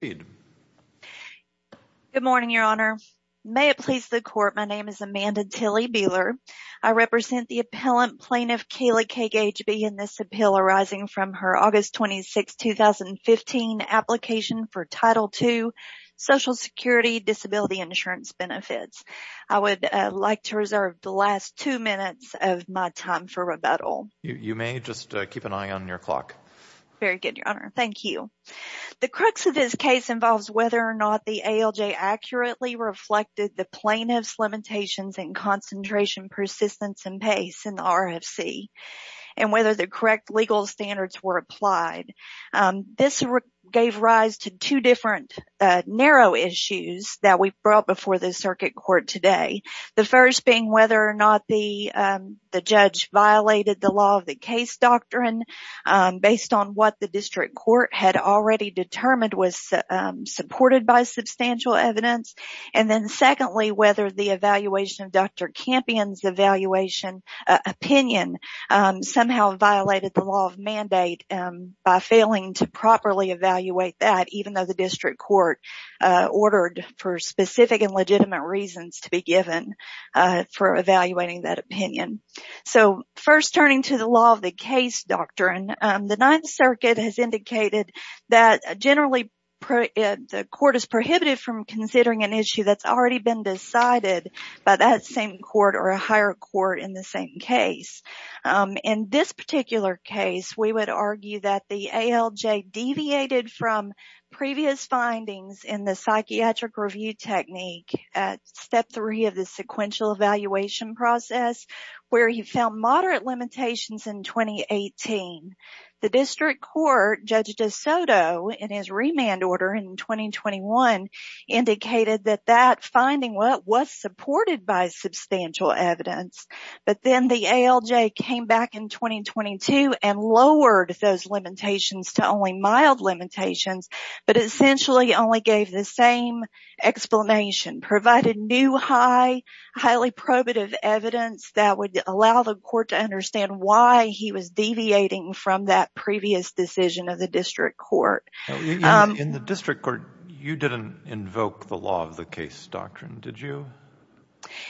Good morning, Your Honor. May it please the Court, my name is Amanda Tilly Beeler. I represent the Appellant Plaintiff Kaylee K. Gageby in this appeal arising from her August 26, 2015 application for Title II Social Security Disability Insurance Benefits. I would like to reserve the last two minutes of my time for rebuttal. You may, just keep an eye on your clock. Very of this case involves whether or not the ALJ accurately reflected the plaintiff's limitations in concentration, persistence, and pace in the RFC, and whether the correct legal standards were applied. This gave rise to two different narrow issues that we brought before the Circuit Court today. The first being whether or not the judge violated the law of the case doctrine based on what the District Court had already determined was supported by substantial evidence. And then secondly, whether the evaluation of Dr. Campion's evaluation opinion somehow violated the law of mandate by failing to properly evaluate that, even though the District Court ordered for specific and legitimate reasons to be given for evaluating that opinion. So first, turning to the law of the case doctrine, the Ninth Circuit has indicated that generally the court is prohibited from considering an issue that's already been decided by that same court or a higher court in the same case. In this particular case, we would argue that the ALJ deviated from previous findings in the psychiatric review technique at Step 3 of the sequential evaluation process, where he found moderate limitations in 2018. The District Court, Judge DeSoto, in his remand order in 2021, indicated that that finding was supported by substantial evidence, but then the ALJ came back in 2022 and lowered those limitations to only mild limitations, but essentially only gave the same explanation, provided new, highly probative evidence that would allow the court to understand why he was deviating from that previous decision of the District Court. In the District Court, you didn't invoke the law of the case doctrine, did you?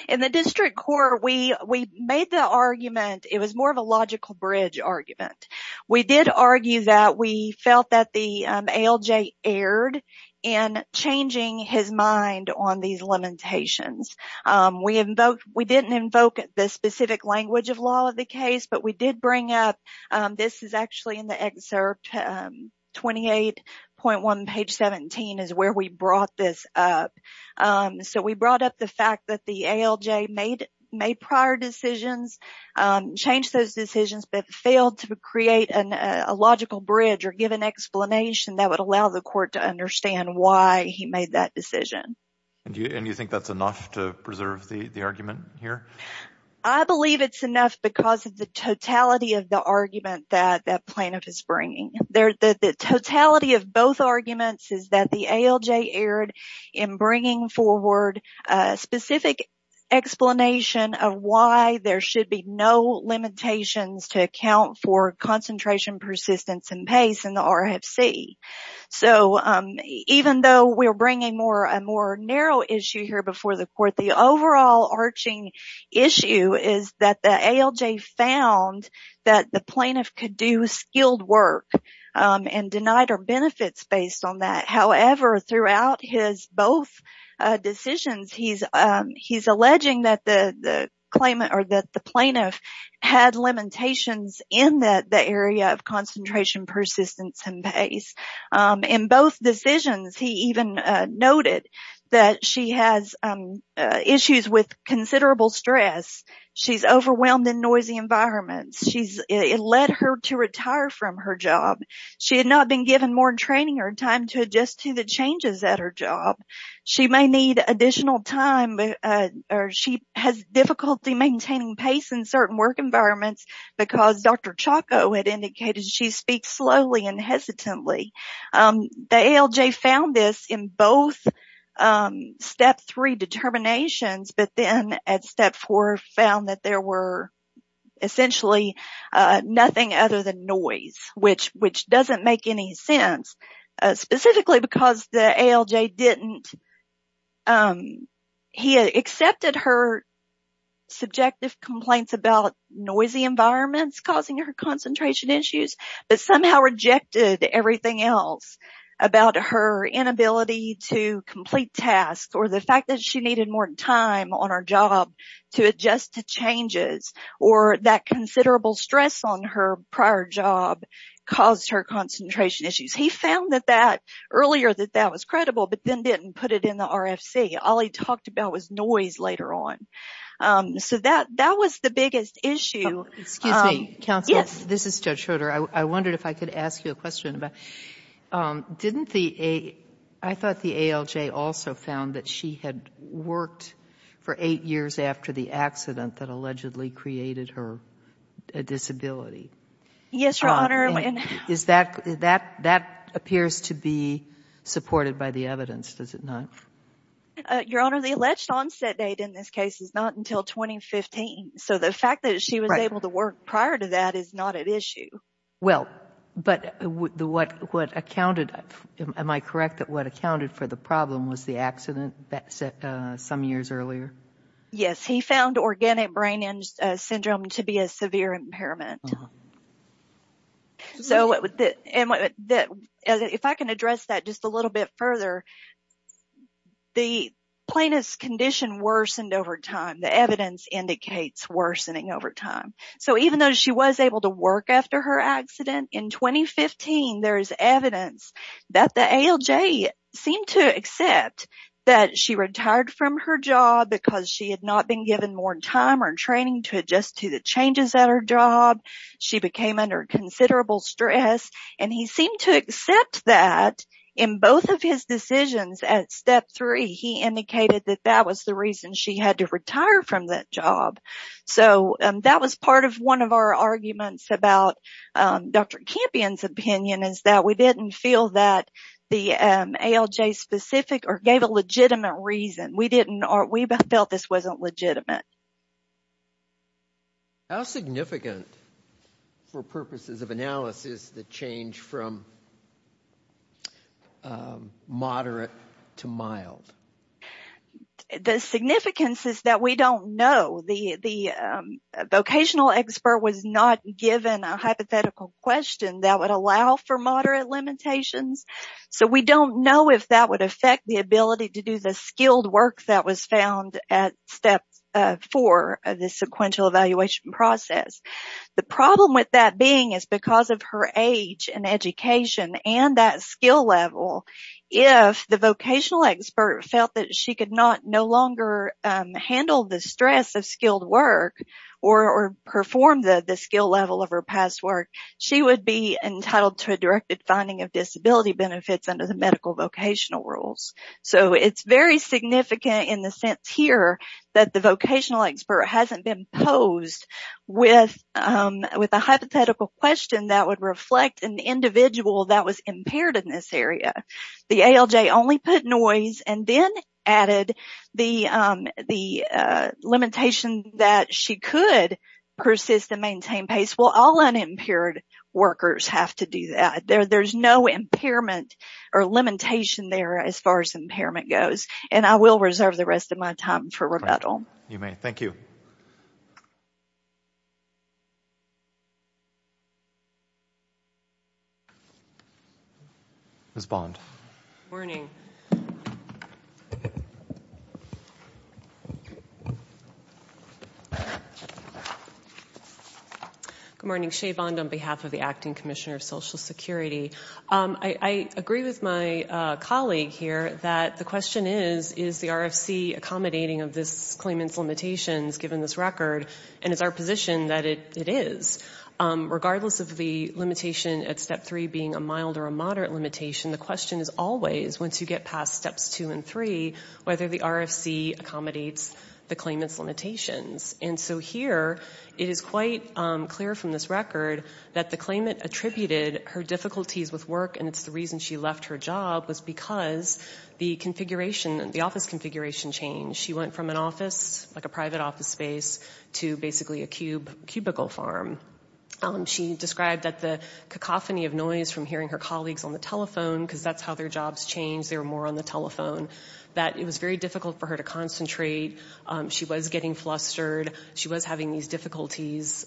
In the District Court, we made the argument, it was more of a logical bridge argument. We did argue that we felt that the ALJ erred in changing his mind on these limitations. We didn't invoke the specific language of law of the case, but we did bring up, this is actually in the excerpt 28.1 page 17, is where we brought this up. So we brought up the that the ALJ made prior decisions, changed those decisions, but failed to create a logical bridge or give an explanation that would allow the court to understand why he made that decision. And you think that's enough to preserve the argument here? I believe it's enough because of the totality of the argument that plaintiff is bringing. The totality of both arguments is that the ALJ erred in bringing forward a specific explanation of why there should be no limitations to account for concentration, persistence, and pace in the RFC. So even though we're bringing a more narrow issue here before the court, the overarching issue is that the ALJ found that the plaintiff could do skilled work and denied her benefits based on that. However, throughout his both decisions, he's alleging that the plaintiff had limitations in the area of concentration, persistence, and pace. In both decisions, he even noted that she has issues with considerable stress. She's overwhelmed in noisy environments. It led her to retire from her job. She had not been given more training or time to adjust to the changes at her job. She may need additional time or she has difficulty maintaining pace in certain work environments because Dr. Choco had indicated she speaks slowly and hesitantly. The ALJ found this in both step three determinations, but then at step four found that there was essentially nothing other than noise, which doesn't make any sense, specifically because the ALJ accepted her subjective complaints about noisy environments causing her concentration issues, but somehow rejected everything else about her inability to complete tasks or the fact that she needed more time on her job to adjust to changes or that considerable stress on her prior job caused her concentration issues. He found that that earlier that that was credible, but then didn't put it in the RFC. All he talked about was noise later on. So that that was the issue. Excuse me, counsel. Yes, this is Judge Schroeder. I wondered if I could ask you a question about, didn't the, I thought the ALJ also found that she had worked for eight years after the accident that allegedly created her disability. Yes, Your Honor. Is that, that appears to be supported by the evidence, does it not? Your Honor, the alleged onset date in this case is not until 2015. So the fact that she was able to work prior to that is not an issue. Well, but what accounted, am I correct that what accounted for the problem was the accident that set some years earlier? Yes, he found organic brain syndrome to be a severe impairment. So, if I can address that just a little bit further, the plaintiff's condition worsened over time. The evidence indicates worsening over time. So even though she was able to work after her accident in 2015, there is evidence that the ALJ seemed to accept that she retired from her job because she had not been given more time or training to adjust to the changes at her job. She became under considerable stress and he seemed to in both of his decisions at step three, he indicated that that was the reason she had to retire from that job. So that was part of one of our arguments about Dr. Campion's opinion is that we didn't feel that the ALJ specific or gave a legitimate reason. We didn't, we felt this wasn't legitimate. How significant for purposes of analysis the change from moderate to mild? The significance is that we don't know. The vocational expert was not given a hypothetical question that would allow for moderate limitations. So we don't know if that would affect the ability to do the skilled work that was found at step four of the sequential evaluation process. The problem with that being is because of her age and education and that skill level, if the vocational expert felt that she could not no longer handle the stress of skilled work or perform the skill level of her past work, she would be entitled to a directed finding of disability benefits under the medical vocational rules. So it's very significant in the sense here that the vocational expert hasn't been posed with a hypothetical question that would reflect an individual that was impaired in this area. The ALJ only put noise and then added the limitation that she could persist and maintain pace. Well, all unimpaired workers have to do that. There's no impairment or limitation there as far as impairment goes, and I will reserve the rest of my time for rebuttal. You may. Thank you. Ms. Bond. Good morning. I agree with my colleague here that the question is, is the RFC accommodating of this claimant's limitations given this record, and it's our position that it is. Regardless of the limitation at step three being a mild or a moderate limitation, the question is always, once you get past steps two and three, whether the RFC accommodates the claimant's limitations. And so here it is quite clear from this record that the claimant attributed her difficulties with work, and it's the reason she left her job, was because the office configuration changed. She went from an office, like a private office space, to basically a cubicle farm. She described that the cacophony of noise from hearing her colleagues on the telephone, because that's how their jobs changed, they were more on the telephone, that it was very difficult for her to concentrate. She was getting flustered. She was having these difficulties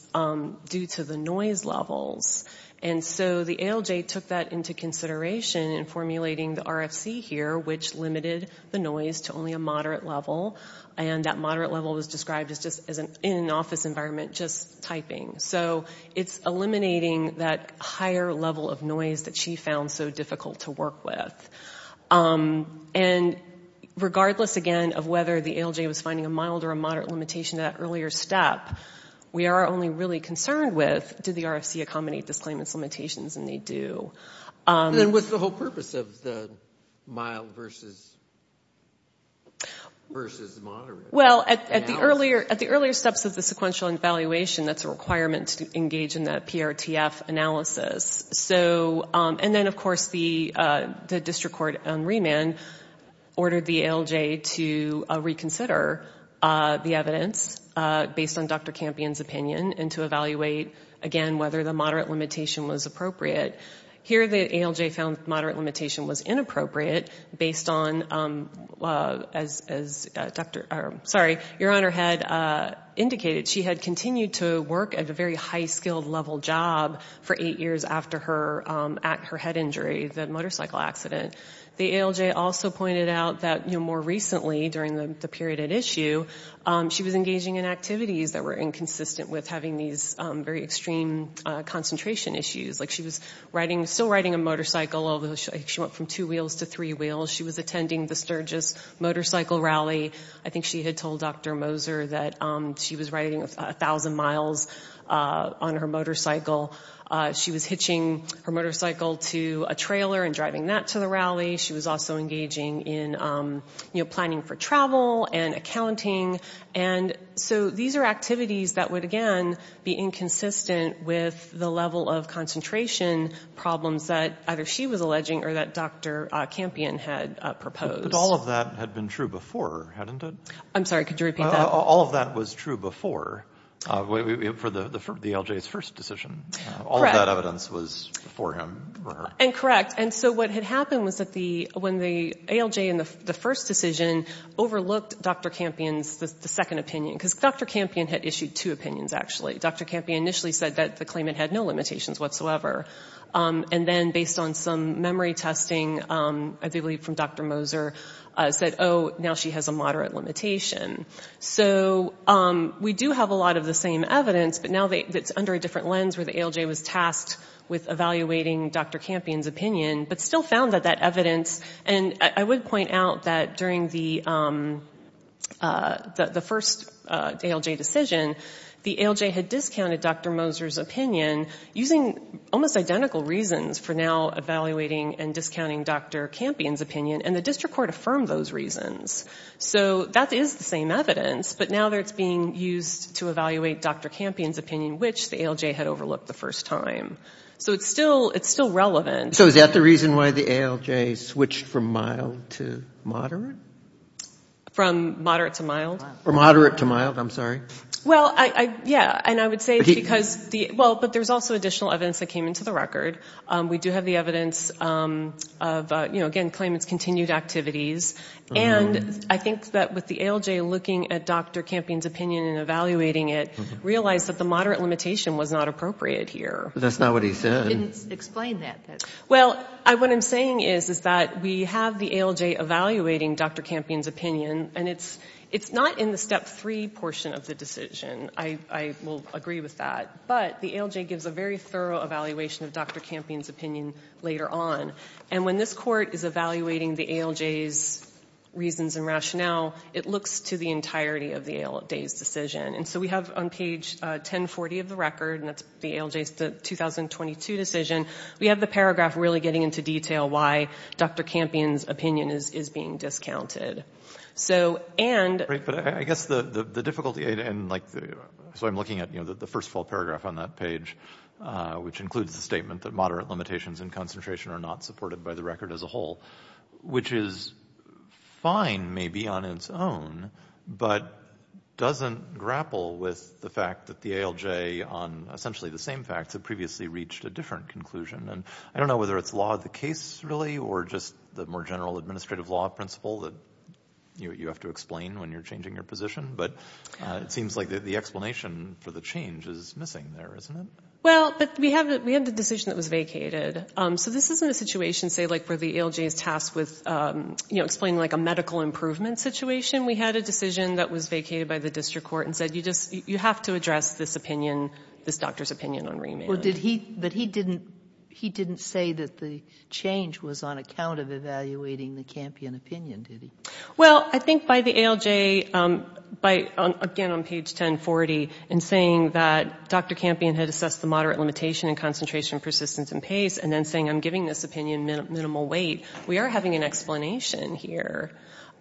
due to the noise levels. And so the ALJ took that into consideration in formulating the RFC here, which limited the noise to only a moderate level, and that moderate level was described as just in an office environment, just typing. So it's eliminating that higher level of noise that she found so difficult to work with. And regardless, again, of whether the ALJ was finding a mild or a moderate limitation at that earlier step, we are only really concerned with, did the RFC accommodate this claimant's limitations, and they do. And what's the whole purpose of the mild versus moderate? Well, at the earlier steps of the sequential evaluation, that's a requirement to engage in PRTF analysis. And then, of course, the district court on remand ordered the ALJ to reconsider the evidence based on Dr. Campion's opinion, and to evaluate, again, whether the moderate limitation was appropriate. Here, the ALJ found the moderate limitation was inappropriate, based on, as your Honor had indicated, she had continued to work at a very high-skilled level job for eight years after her head injury, the motorcycle accident. The ALJ also pointed out that more recently, during the period at issue, she was engaging in activities that were inconsistent with having these very extreme concentration issues. Like, she was still riding a motorcycle, although she went from two wheels to three wheels. She was attending the Sturgis Motorcycle Rally. I think she had told Dr. Moser that she was riding 1,000 miles on her motorcycle. She was hitching her motorcycle to a trailer and driving that to the rally. She was also engaging in, you know, planning for travel and accounting. And so these are activities that would, again, be inconsistent with the level of concentration problems that either she was alleging or that Dr. Campion had proposed. But all of that had been true before, hadn't it? I'm sorry, could you repeat that? All of that was true before, for the ALJ's first decision. Correct. All of that evidence was before him or her. And correct. And so what had happened was that when the ALJ in the first decision overlooked Dr. Campion's second opinion, because Dr. Campion had issued two opinions, actually. Dr. Campion initially said that the claimant had no limitations whatsoever. And then based on some memory testing, I believe from Dr. Moser, said, oh, now she has a moderate limitation. So we do have a lot of the same evidence, but now it's under a different lens where the ALJ was tasked with evaluating Dr. Campion's opinion, but still found that that ALJ had discounted Dr. Moser's opinion using almost identical reasons for now evaluating and discounting Dr. Campion's opinion, and the district court affirmed those reasons. So that is the same evidence, but now it's being used to evaluate Dr. Campion's opinion, which the ALJ had overlooked the first time. So it's still relevant. So is that the reason why the ALJ switched from mild to moderate? From moderate to mild. From moderate to mild, I'm sorry. Well, yeah, and I would say because the, well, but there's also additional evidence that came into the record. We do have the evidence of, you know, again, claimant's continued activities. And I think that with the ALJ looking at Dr. Campion's opinion and evaluating it, realized that the moderate limitation was not appropriate here. That's not what he said. He didn't explain that. Well, what I'm saying is that we have the ALJ evaluating Dr. Campion's opinion, and it's not in the step three portion of the decision. I will agree with that. But the ALJ gives a very thorough evaluation of Dr. Campion's opinion later on. And when this court is evaluating the ALJ's reasons and rationale, it looks to the entirety of the ALJ's decision. And so we have on page 1040 of the record, and that's the ALJ's 2022 decision, we have the paragraph really getting into detail why Dr. Campion's opinion is being discounted. So, and... Right, but I guess the difficulty, and like the, so I'm looking at, you know, the first full paragraph on that page, which includes the statement that moderate limitations and concentration are not supported by the record as a whole, which is fine maybe on its own, but doesn't grapple with the fact that the ALJ on essentially the same facts had previously reached a different conclusion. And I don't know whether it's law of the case really, or just the more general administrative law principle that you have to explain when you're changing your position, but it seems like the explanation for the change is missing there, isn't it? Well, but we have the decision that was vacated. So this isn't a situation, say, where the ALJ is tasked with, you know, explaining like a medical improvement situation. We had a decision that was vacated by the district court and said, you just, you have to address this opinion, this doctor's opinion on remand. Well, did he, but he didn't, he didn't say that the change was on account of evaluating the Campion opinion, did he? Well, I think by the ALJ, by, again on page 1040, in saying that Dr. Campion had assessed the moderate limitation in concentration, persistence, and pace, and then saying I'm giving this opinion minimal weight, we are having an explanation here.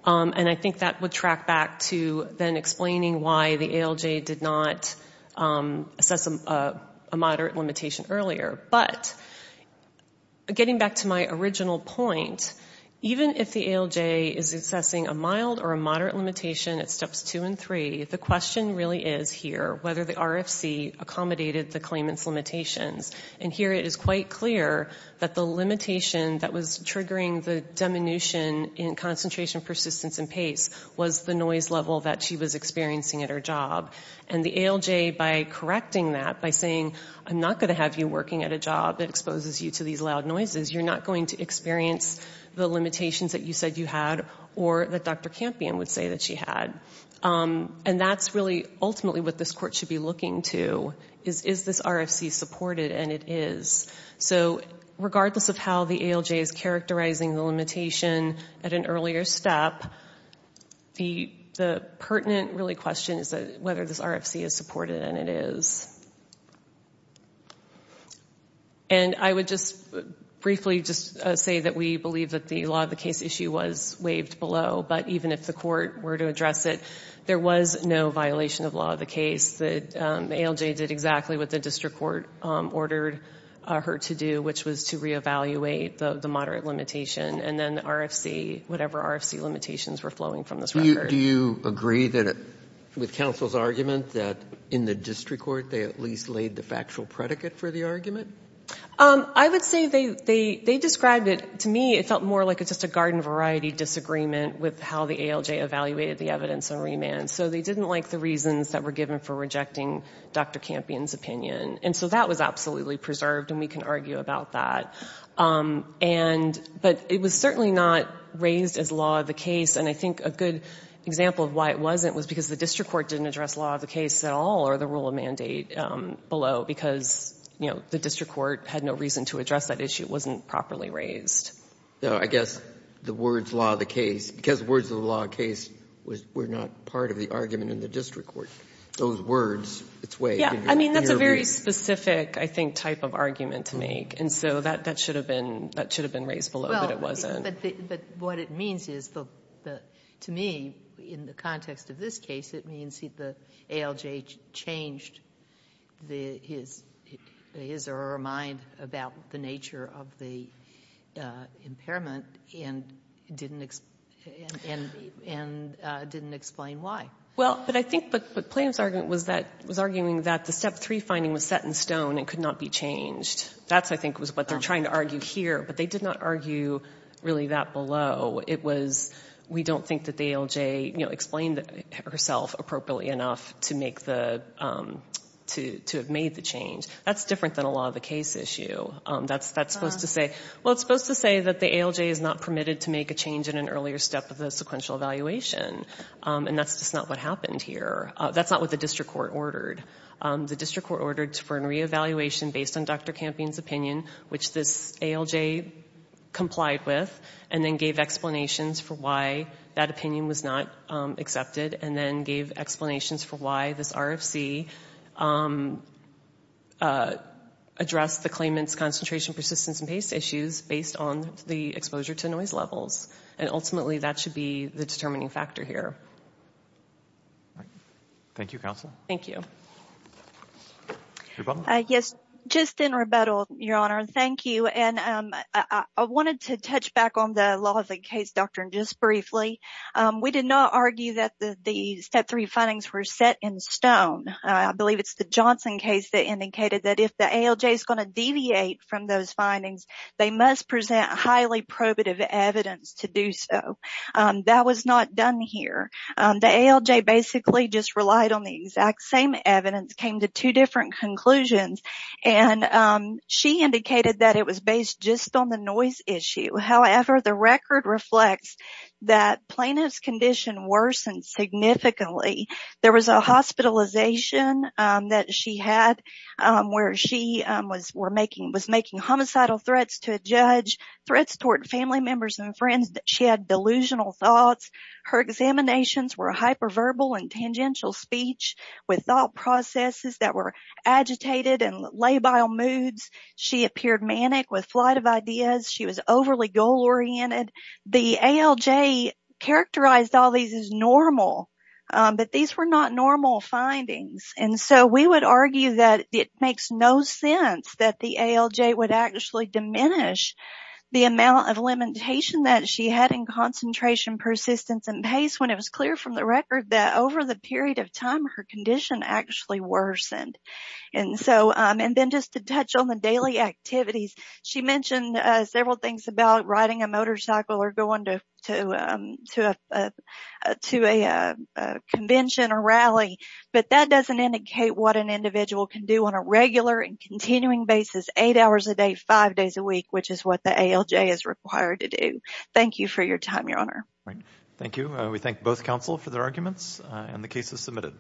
And I think that would track back to then explaining why the ALJ did not assess a moderate limitation earlier. But getting back to my original point, even if the ALJ is assessing a mild or a moderate limitation at steps two and three, the question really is whether the RFC accommodated the claimant's limitations. And here it is quite clear that the limitation that was triggering the diminution in concentration, persistence, and pace was the noise level that she was experiencing at her job. And the ALJ, by correcting that, by saying I'm not going to have you working at a job that exposes you to these loud noises, you're not going to experience the limitations that you said you had or that Dr. Campion would say that she had. And that's really ultimately what this court should be looking to, is is this RFC supported, and it is. So regardless of how the ALJ is characterizing the limitation at an earlier step, the pertinent really question is whether this RFC is supported, and it is. And I would just briefly just say that we believe that the law of the case issue was waived below, but even if the court were to address it, there was no violation of law of the case. The ALJ did exactly what the district court ordered her to do, which was to re-evaluate the moderate limitation, and then RFC, whatever RFC limitations were flowing from this record. Do you agree that with counsel's argument that in the district court they at least laid the factual predicate for the argument? I would say they described it, to me, it felt more like it's just a garden variety disagreement with how the ALJ evaluated the evidence on remand. So they didn't like the reasons that were given for rejecting Dr. Campion's opinion. And so that was absolutely preserved, and we can argue about that. But it was certainly not raised as law of the case, and I think a good example of why it wasn't was because the district court didn't address law of the case at all or the rule of mandate below, because, you know, the district court had no reason to address that issue. It wasn't properly raised. I guess the words law of the case, because the words of the law of the case were not part of the argument in the district court. Those words, it's way... Yeah, I mean, that's a very specific, I think, type of argument to make. And so that should have been raised below, but it wasn't. But what it means is, to me, in the context of this case, it means the ALJ changed his or her mind about the nature of the impairment and didn't explain why. Well, but I think what Plame's argument was that, was arguing that the Step 3 finding was set in stone and could not be changed. That, I think, was what they're trying to argue here, but they did not argue really that below. It was, we don't think that the ALJ, you know, explained herself appropriately enough to make the, to have made the change. That's different than a law of the case issue. That's supposed to say, well, it's supposed to say that the ALJ is not permitted to make a change in an earlier step of the sequential evaluation, and that's just not what happened here. That's not what the district court ordered. The district court ordered for a re-evaluation based on Dr. Campion's opinion, which this ALJ complied with, and then gave explanations for why that opinion was not accepted, and then gave explanations for why this RFC addressed the claimant's concentration, persistence, and pace issues based on the exposure to noise levels, and ultimately that should be the determining factor here. Thank you, counsel. Thank you. Yes, just in rebuttal, Your Honor, thank you, and I wanted to touch back on the case doctrine just briefly. We did not argue that the Step 3 findings were set in stone. I believe it's the Johnson case that indicated that if the ALJ is going to deviate from those findings, they must present highly probative evidence to do so. That was not done here. The ALJ basically just relied on the exact same evidence, came to two different conclusions, and she indicated that it was based just on the noise issue. However, the record reflects that plaintiff's condition worsened significantly. There was a hospitalization that she had where she was making homicidal threats to a judge, threats toward family members and friends. She had delusional thoughts. Her examinations were hyperverbal and tangential speech with thought processes that were agitated and labile moods. She appeared manic with flight of ideas. She was overly goal-oriented. The ALJ characterized all these as normal, but these were not normal findings, and so we would argue that it makes no sense that the ALJ would actually diminish the amount of limitation that she had in concentration, persistence, and pace when it was clear from the record that over the period of time, her condition actually worsened. Then just to touch on the daily activities, she mentioned several things about riding a motorcycle or going to a convention or rally, but that doesn't indicate what an individual can do on a regular and continuing basis, eight hours a day, five days a week, which is what the ALJ is required to do. Thank you for your time, Your Honor. Thank you. We thank both counsel for their arguments and the cases submitted.